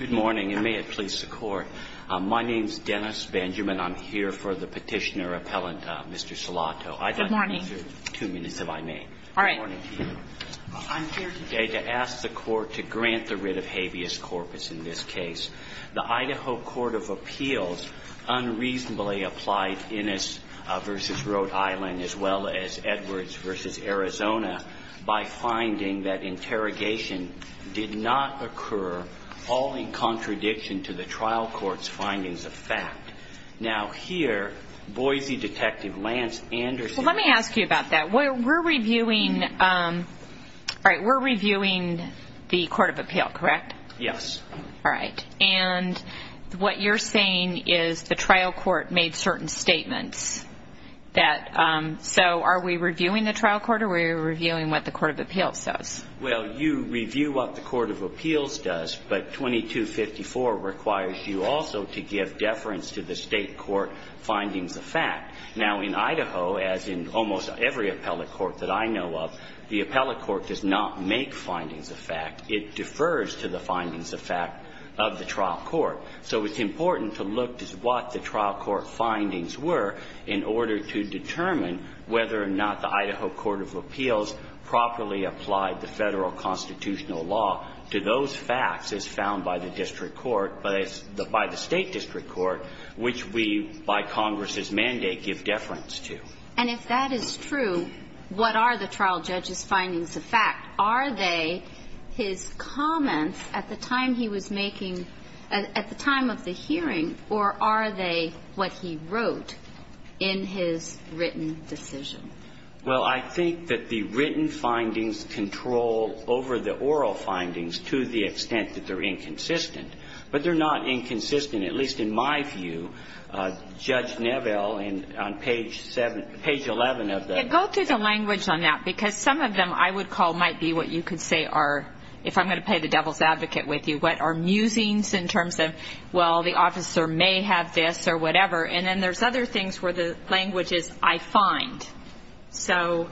Good morning, and may it please the Court. My name is Dennis Benjamin. I'm here for the petitioner-appellant, Mr. Salato. Good morning. Two minutes, if I may. All right. I'm here today to ask the Court to grant the writ of habeas corpus in this case. The Idaho Court of Appeals unreasonably applied Innis v. Rhode Island as well as Edwards v. Arizona by finding that interrogation did not occur, all in contradiction to the trial court's findings of fact. Now, here, Boise Detective Lance Anderson Well, let me ask you about that. We're reviewing the court of appeal, correct? Yes. All right. And what you're saying is the trial court made certain statements that So are we reviewing the trial court or are we reviewing what the court of appeals does? Well, you review what the court of appeals does, but 2254 requires you also to give deference to the state court findings of fact. Now, in Idaho, as in almost every appellate court that I know of, the appellate court does not make findings of fact. It defers to the findings of fact of the trial court. So it's important to look at what the trial court findings were in order to determine whether or not the Idaho Court of Appeals properly applied the Federal constitutional law to those facts as found by the district court, by the state district court, which we, by Congress's mandate, give deference to. And if that is true, what are the trial judge's findings of fact? Are they his comments at the time he was making, at the time of the hearing, or are they what he wrote in his written decision? Well, I think that the written findings control over the oral findings to the extent that they're inconsistent. But they're not inconsistent, at least in my view. Judge Neville, on page 7, page 11 of the Go through the language on that because some of them I would call might be what you could say are, if I'm going to play the devil's advocate with you, what are musings in terms of, well, the officer may have this or whatever. And then there's other things where the language is, I find. So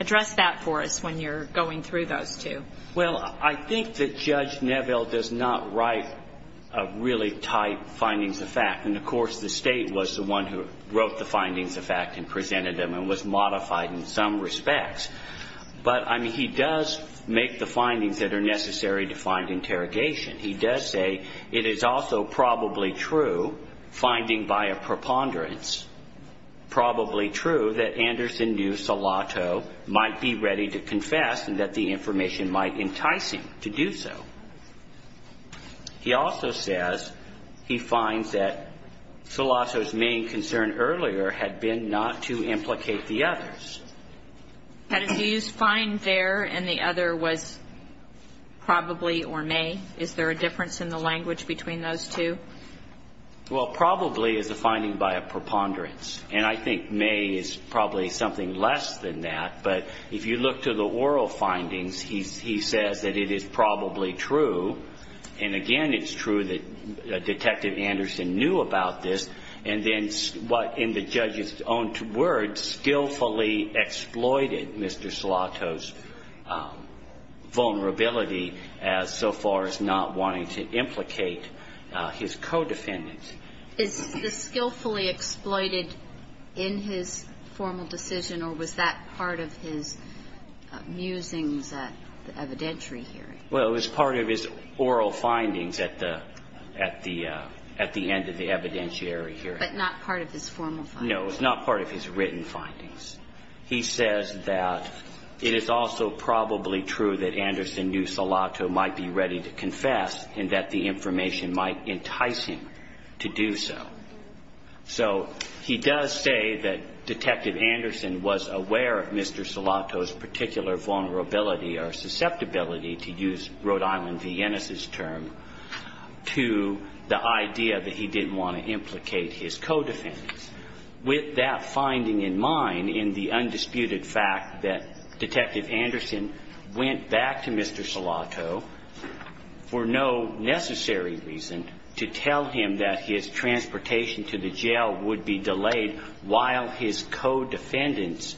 address that for us when you're going through those two. Well, I think that Judge Neville does not write really tight findings of fact. And, of course, the State was the one who wrote the findings of fact and presented them and was modified in some respects. But, I mean, he does make the findings that are necessary to find interrogation. He does say it is also probably true, finding by a preponderance, probably true that Anderson knew Salato might be ready to confess and that the information might entice him to do so. He also says he finds that Salato's main concern earlier had been not to implicate the others. Had he used find there and the other was probably or may? Is there a difference in the language between those two? Well, probably is a finding by a preponderance. And I think may is probably something less than that. But if you look to the oral findings, he says that it is probably true. And, again, it's true that Detective Anderson knew about this. And then what in the judge's own words skillfully exploited Mr. Salato's vulnerability as so far as not wanting to implicate his co-defendants. Is the skillfully exploited in his formal decision or was that part of his musings at the evidentiary hearing? Well, it was part of his oral findings at the end of the evidentiary hearing. But not part of his formal findings. No, it was not part of his written findings. He says that it is also probably true that Anderson knew Salato might be ready to confess and that the information might entice him to do so. So he does say that Detective Anderson was aware of Mr. Salato's particular vulnerability or susceptibility, to use Rhode Island Viennese's term, to the idea that he didn't want to implicate his co-defendants. With that finding in mind in the undisputed fact that Detective Anderson went back to Mr. Salato for no necessary reason to tell him that his transportation to the jail would be delayed while his co-defendants'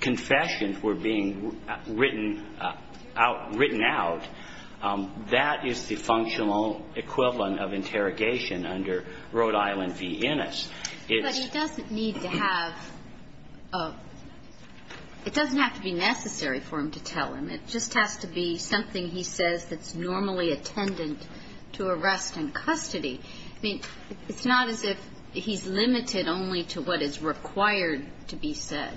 confessions were being written out, that is the functional equivalent of interrogation under Rhode Island Viennese. But it doesn't need to have – it doesn't have to be necessary for him to tell him. It just has to be something he says that's normally attendant to arrest and custody. I mean, it's not as if he's limited only to what is required to be said.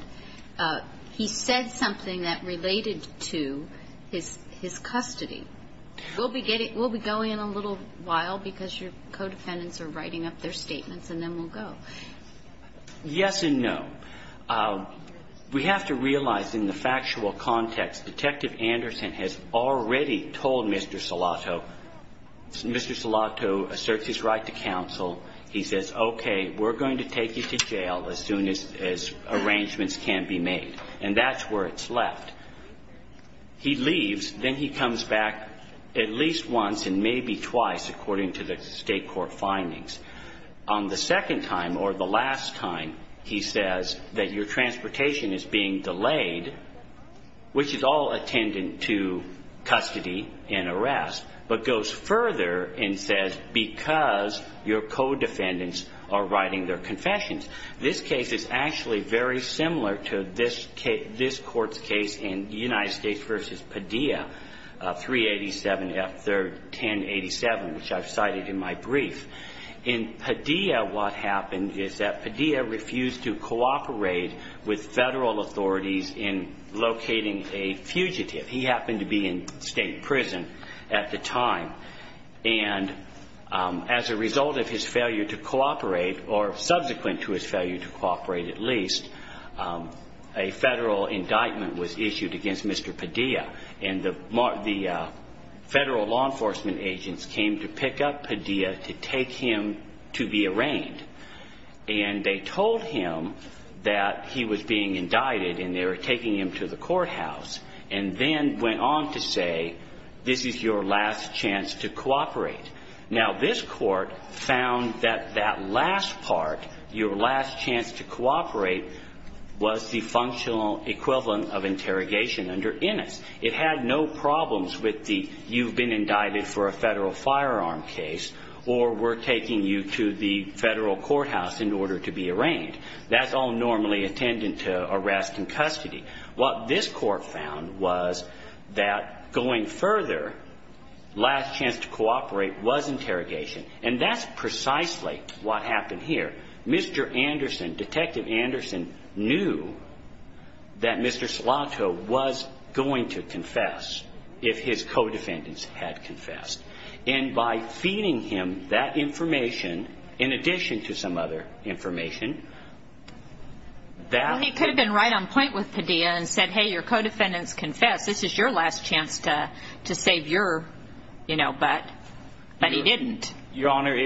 He said something that related to his custody. We'll be going in a little while because your co-defendants are writing up their statements, and then we'll go. Yes and no. We have to realize in the factual context Detective Anderson has already told Mr. Salato. Mr. Salato asserts his right to counsel. He says, okay, we're going to take you to jail as soon as arrangements can be made. And that's where it's left. He leaves. Then he comes back at least once and maybe twice, according to the state court findings. On the second time or the last time, he says that your transportation is being delayed, which is all attendant to custody and arrest, but goes further and says because your co-defendants are writing their confessions. This case is actually very similar to this court's case in United States v. Padilla, 387 F. 3rd, 1087, which I've cited in my brief. In Padilla, what happened is that Padilla refused to cooperate with federal authorities in locating a fugitive. He happened to be in state prison at the time. And as a result of his failure to cooperate, or subsequent to his failure to cooperate at least, a federal indictment was issued against Mr. Padilla, and the federal law enforcement agents came to pick up Padilla to take him to be arraigned. And they told him that he was being indicted and they were taking him to the courthouse and then went on to say this is your last chance to cooperate. Now, this court found that that last part, your last chance to cooperate, was the functional equivalent of interrogation under Innis. It had no problems with the you've been indicted for a federal firearm case or we're taking you to the federal courthouse in order to be arraigned. That's all normally attendant to arrest and custody. What this court found was that going further, last chance to cooperate was interrogation, and that's precisely what happened here. Mr. Anderson, Detective Anderson, knew that Mr. Slato was going to confess if his co-defendants had confessed. And by feeding him that information, in addition to some other information, that... He could have been right on point with Padilla and said, hey, your co-defendants confessed. This is your last chance to save your, you know, butt. But he didn't. Your Honor,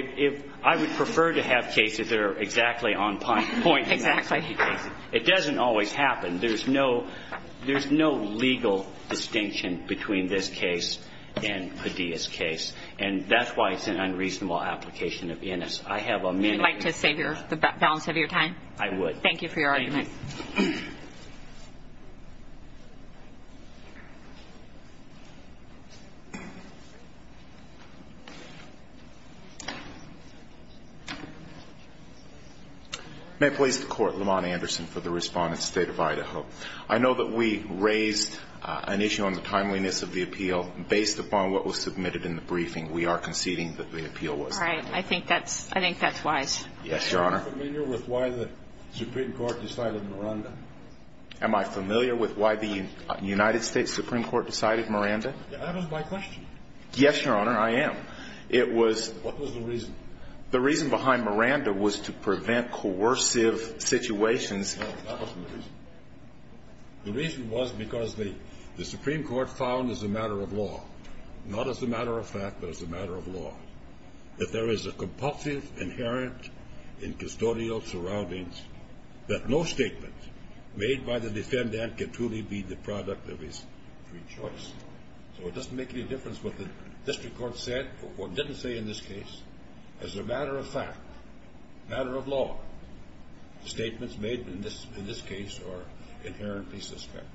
I would prefer to have cases that are exactly on point. Exactly. It doesn't always happen. There's no legal distinction between this case and Padilla's case, and that's why it's an unreasonable application of Innis. I have a minute. Would you like to save the balance of your time? I would. Thank you for your argument. Thank you. May it please the Court, Lamont Anderson for the Respondent, State of Idaho. I know that we raised an issue on the timeliness of the appeal. Based upon what was submitted in the briefing, we are conceding that the appeal was timely. All right. I think that's wise. Yes, Your Honor. Are you familiar with why the Supreme Court decided Miranda? Am I familiar with why the United States Supreme Court decided Miranda? That was my question. Yes, Your Honor, I am. What was the reason? The reason behind Miranda was to prevent coercive situations. No, that wasn't the reason. The reason was because the Supreme Court found as a matter of law, not as a matter of fact, but as a matter of law, that there is a compulsive inherent in custodial surroundings that no statement made by the defendant can truly be the product of his free choice. So it doesn't make any difference what the district court said, what it didn't say in this case, as a matter of fact, a matter of law. The statements made in this case are inherently suspect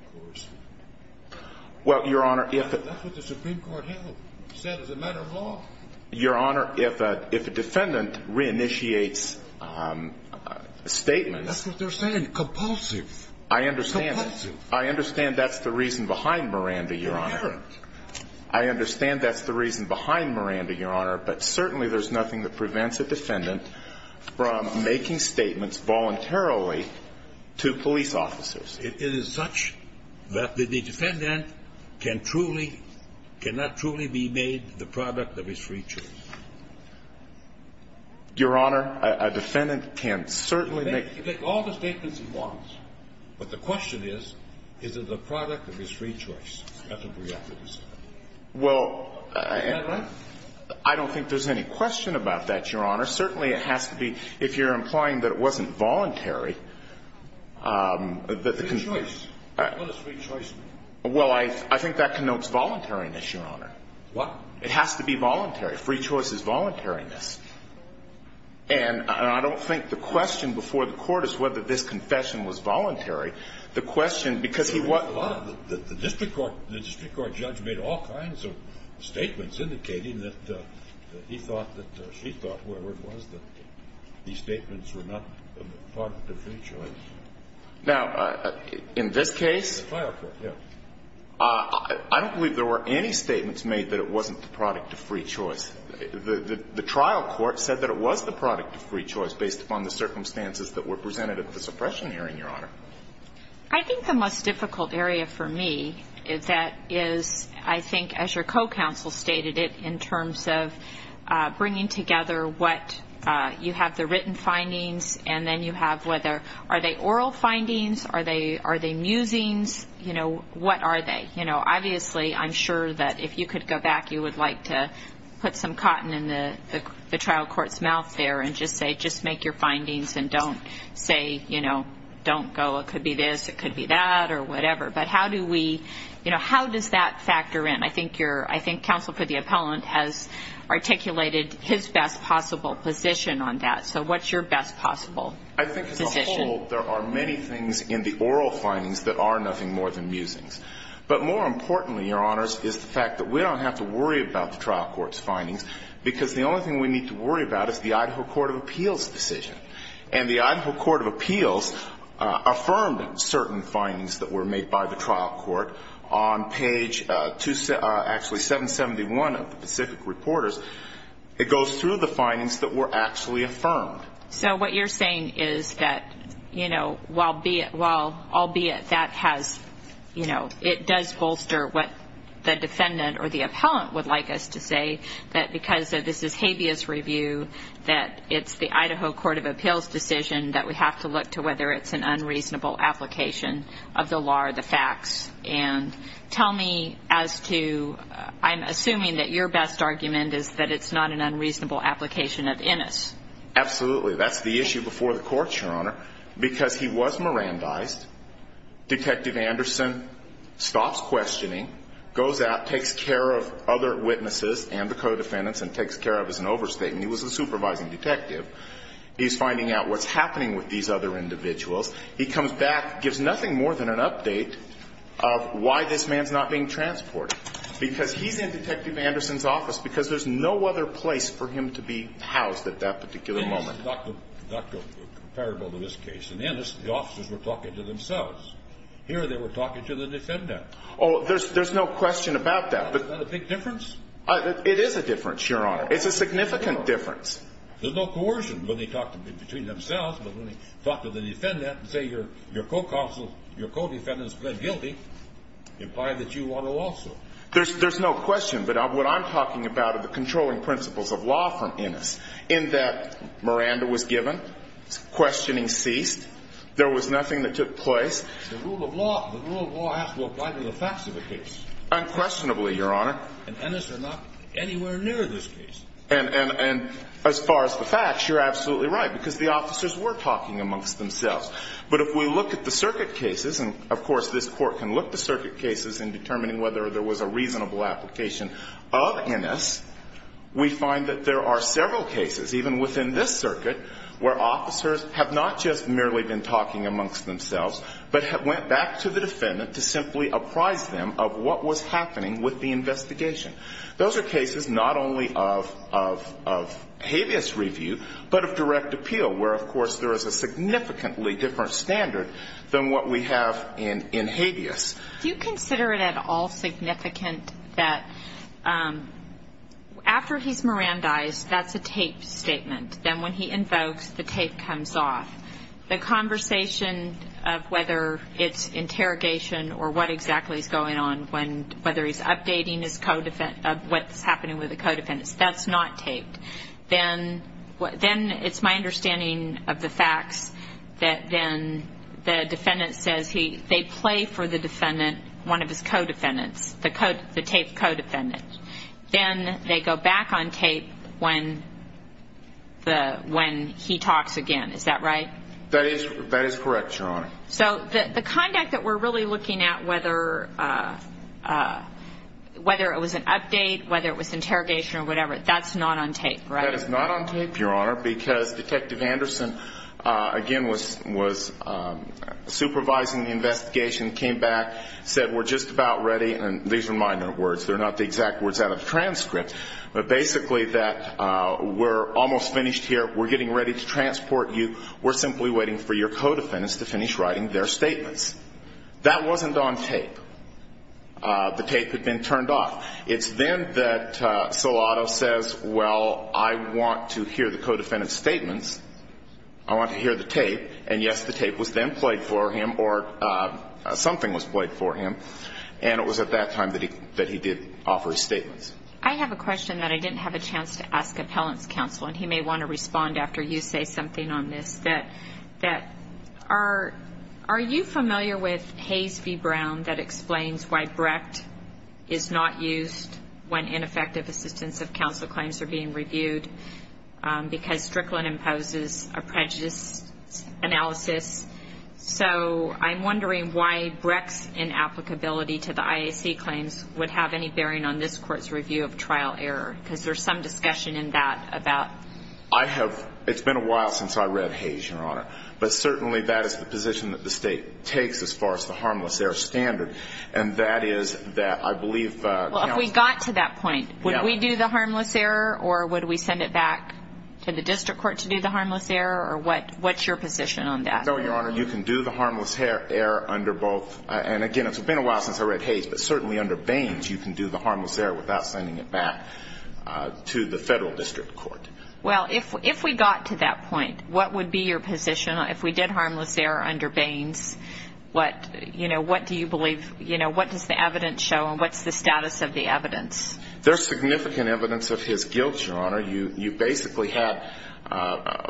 of coercion. Well, Your Honor, if... That's what the Supreme Court held, said as a matter of law. Your Honor, if a defendant reinitiates statements... I understand. Compulsive. That's the reason behind Miranda, Your Honor. Inherent. I understand that's the reason behind Miranda, Your Honor, but certainly there's nothing that prevents a defendant from making statements voluntarily to police officers. It is such that the defendant can truly, cannot truly be made the product of his free choice. Your Honor, a defendant can certainly make... He can make all the statements he wants, but the question is, is it the product of his free choice? Well... Isn't that right? I don't think there's any question about that, Your Honor. Certainly it has to be, if you're implying that it wasn't voluntary... Free choice. What does free choice mean? Well, I think that connotes voluntariness, Your Honor. What? It has to be voluntary. Free choice is voluntariness. And I don't think the question before the Court is whether this confession was voluntary. The question, because he was... The district court judge made all kinds of statements indicating that he thought that she thought, whatever it was, that these statements were not the product of free choice. Now, in this case... The file court, yeah. I don't believe there were any statements made that it wasn't the product of free choice. The trial court said that it was the product of free choice based upon the circumstances that were presented at the suppression hearing, Your Honor. I think the most difficult area for me is that is, I think, as your co-counsel stated it, in terms of bringing together what you have, the written findings, and then you have whether are they oral findings, are they musings, you know, what are they? Obviously, I'm sure that if you could go back, you would like to put some cotton in the trial court's mouth there and just say, just make your findings and don't say, you know, don't go, it could be this, it could be that, or whatever. But how do we, you know, how does that factor in? I think counsel for the appellant has articulated his best possible position on that. So what's your best possible position? I think as a whole, there are many things in the oral findings that are nothing more than musings. But more importantly, Your Honors, is the fact that we don't have to worry about the trial court's findings because the only thing we need to worry about is the Idaho Court of Appeals' decision. And the Idaho Court of Appeals affirmed certain findings that were made by the trial court on page, actually, 771 of the Pacific Reporters. It goes through the findings that were actually affirmed. So what you're saying is that, you know, albeit that has, you know, it does bolster what the defendant or the appellant would like us to say, that because this is habeas review, that it's the Idaho Court of Appeals' decision that we have to look to whether it's an unreasonable application of the law or the facts. And tell me as to, I'm assuming that your best argument is that it's not an unreasonable application of INIS. Absolutely. That's the issue before the courts, Your Honor, because he was Mirandized. Detective Anderson stops questioning, goes out, takes care of other witnesses and the co-defendants and takes care of his overstatement. He was a supervising detective. He's finding out what's happening with these other individuals. He comes back, gives nothing more than an update of why this man's not being transported because he's in Detective Anderson's office because there's no other place for him to be housed at that particular moment. Well, that's not comparable to this case. In INIS, the officers were talking to themselves. Here they were talking to the defendant. Oh, there's no question about that. Is that a big difference? It is a difference, Your Honor. It's a significant difference. There's no coercion when they talk between themselves, but when they talk to the defendant and say, your co-counsel, your co-defendant has pled guilty, imply that you want to also. There's no question, but what I'm talking about are the controlling principles of law from INIS in that Miranda was given. Questioning ceased. There was nothing that took place. The rule of law has to apply to the facts of the case. Unquestionably, Your Honor. And INIS are not anywhere near this case. And as far as the facts, you're absolutely right because the officers were talking amongst themselves. But if we look at the circuit cases, and of course this Court can look at the circuit cases in determining whether there was a reasonable application of INIS, we find that there are several cases, even within this circuit, where officers have not just merely been talking amongst themselves, but have went back to the defendant to simply apprise them of what was happening with the investigation. Those are cases not only of habeas review, but of direct appeal, where, of course, there is a significantly different standard than what we have in habeas. Do you consider it at all significant that after he's Mirandized, that's a taped statement. Then when he invokes, the tape comes off. The conversation of whether it's interrogation or what exactly is going on, whether he's updating his co-defendant, of what's happening with the co-defendant, that's not taped. Then it's my understanding of the facts that then the defendant says they play for the defendant, one of his co-defendants, the taped co-defendant. Then they go back on tape when he talks again. Is that right? That is correct, Your Honor. So the conduct that we're really looking at, whether it was an update, whether it was interrogation or whatever, that's not on tape, right? That is not on tape, Your Honor, because Detective Anderson, again, was supervising the investigation, came back, said we're just about ready. And these are minor words. They're not the exact words out of the transcript. But basically that we're almost finished here. We're getting ready to transport you. We're simply waiting for your co-defendants to finish writing their statements. That wasn't on tape. The tape had been turned off. It's then that Solato says, well, I want to hear the co-defendant's statements. I want to hear the tape. And, yes, the tape was then played for him or something was played for him. And it was at that time that he did offer his statements. I have a question that I didn't have a chance to ask Appellant's Counsel, and he may want to respond after you say something on this. Are you familiar with Hayes v. Brown that explains why Brecht is not used when ineffective assistance of counsel claims are being reviewed because Strickland imposes a prejudice analysis? So I'm wondering why Brecht's inapplicability to the IAC claims would have any bearing on this Court's review of trial error because there's some discussion in that about. It's been a while since I read Hayes, Your Honor, but certainly that is the position that the State takes as far as the harmless error standard, and that is that I believe counsel. Well, if we got to that point, would we do the harmless error or would we send it back to the district court to do the harmless error, or what's your position on that? No, Your Honor, you can do the harmless error under both. And, again, it's been a while since I read Hayes, but certainly under Baines you can do the harmless error without sending it back to the federal district court. Well, if we got to that point, what would be your position? If we did harmless error under Baines, what do you believe? What does the evidence show and what's the status of the evidence? There's significant evidence of his guilt, Your Honor. You basically had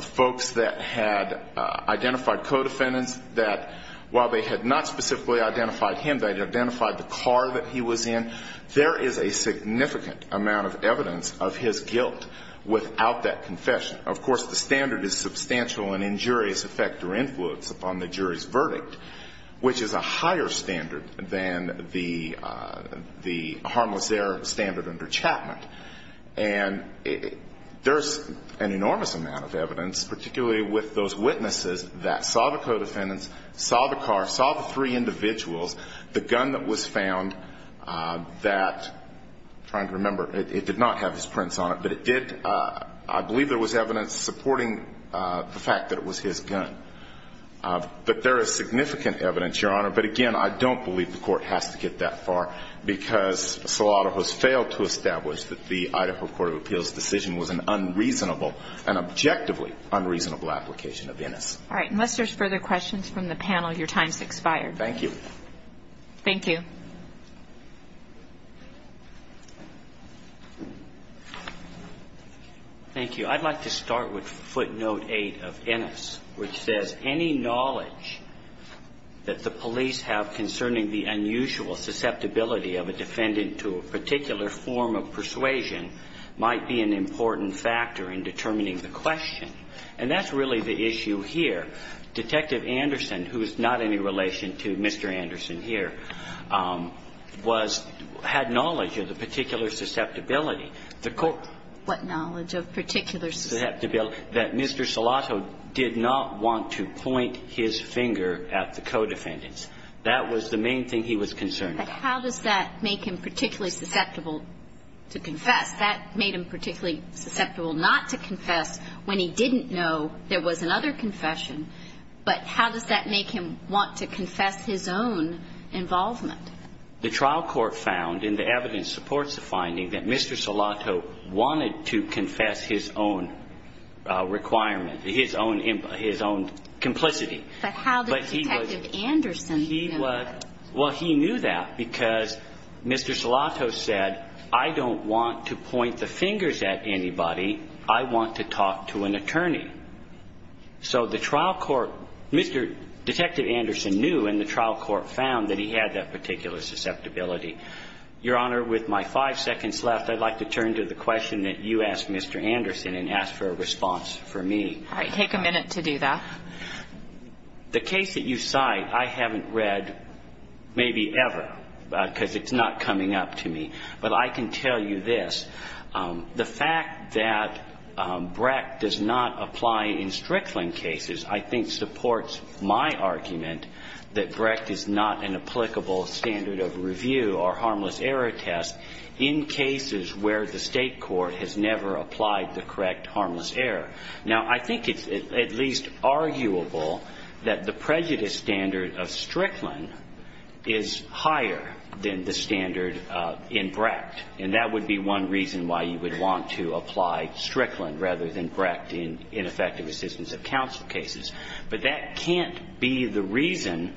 folks that had identified co-defendants that, while they had not specifically identified him, they had identified the car that he was in. There is a significant amount of evidence of his guilt without that confession. Of course, the standard is substantial and injurious effect or influence upon the jury's verdict, which is a higher standard than the harmless error standard under Chapman. And there's an enormous amount of evidence, particularly with those witnesses, that saw the co-defendants, saw the car, saw the three individuals, the gun that was found that, I'm trying to remember, it did not have his prints on it, but it did, I believe there was evidence supporting the fact that it was his gun. But there is significant evidence, Your Honor. But, again, I don't believe the Court has to get that far because Salado has failed to establish that the Idaho Court of Appeals' decision was an unreasonable, an objectively unreasonable application of innocence. All right. Unless there's further questions from the panel, your time has expired. Thank you. Thank you. Thank you. I'd like to start with footnote 8 of Ennis, which says, any knowledge that the police have concerning the unusual susceptibility of a defendant to a particular form of persuasion might be an important factor in determining the question. And that's really the issue here. Detective Anderson, who is not in any relation to Mr. Anderson here, was – had knowledge of the particular susceptibility. What knowledge of particular susceptibility? That Mr. Salado did not want to point his finger at the co-defendants. That was the main thing he was concerned about. But how does that make him particularly susceptible to confess? That made him particularly susceptible not to confess when he didn't know there was another confession. But how does that make him want to confess his own involvement? The trial court found, and the evidence supports the finding, that Mr. Salado wanted to confess his own requirement, his own complicity. But how did Detective Anderson know that? Well, he knew that because Mr. Salado said, I don't want to point the fingers at anybody. I want to talk to an attorney. So the trial court – Mr. – Detective Anderson knew, and the trial court found that he had that particular susceptibility. Your Honor, with my five seconds left, I'd like to turn to the question that you asked Mr. Anderson and ask for a response from me. All right. Take a minute to do that. The case that you cite I haven't read maybe ever because it's not coming up to me. But I can tell you this. The fact that Brecht does not apply in Strickland cases I think supports my argument that Brecht is not an applicable standard of review or harmless error test in cases where the state court has never applied the correct harmless error. Now, I think it's at least arguable that the prejudice standard of Strickland is higher than the standard in Brecht. And that would be one reason why you would want to apply Strickland rather than Brecht in effective assistance of counsel cases. But that can't be the reason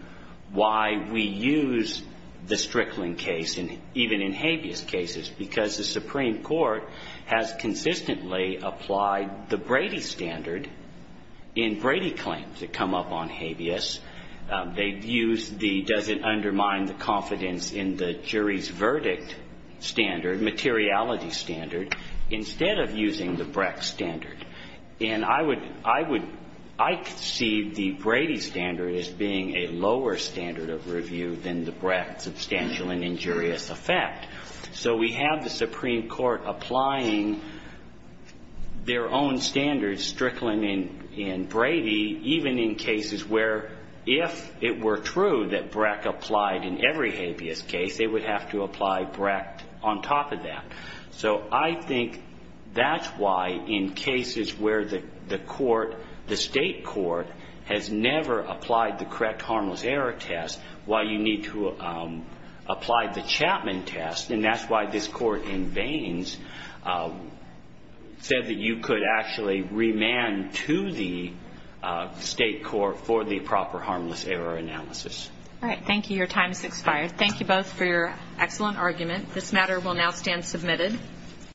why we use the Strickland case, even in habeas cases, because the Supreme Court has consistently applied the Brady standard in Brady claims that come up on habeas. They've used the does it undermine the confidence in the jury's verdict standard, materiality standard, instead of using the Brecht standard. And I would see the Brady standard as being a lower standard of review than the Brecht substantial and injurious effect. So we have the Supreme Court applying their own standards, Strickland and Brady, even in cases where if it were true that Brecht applied in every habeas case, they would have to apply Brecht on top of that. So I think that's why in cases where the state court has never applied the correct harmless error test, why you need to apply the Chapman test, and that's why this Court in veins said that you could actually remand to the state court for the proper harmless error analysis. All right. Thank you. Your time has expired. Thank you both for your excellent argument. This matter will now stand submitted.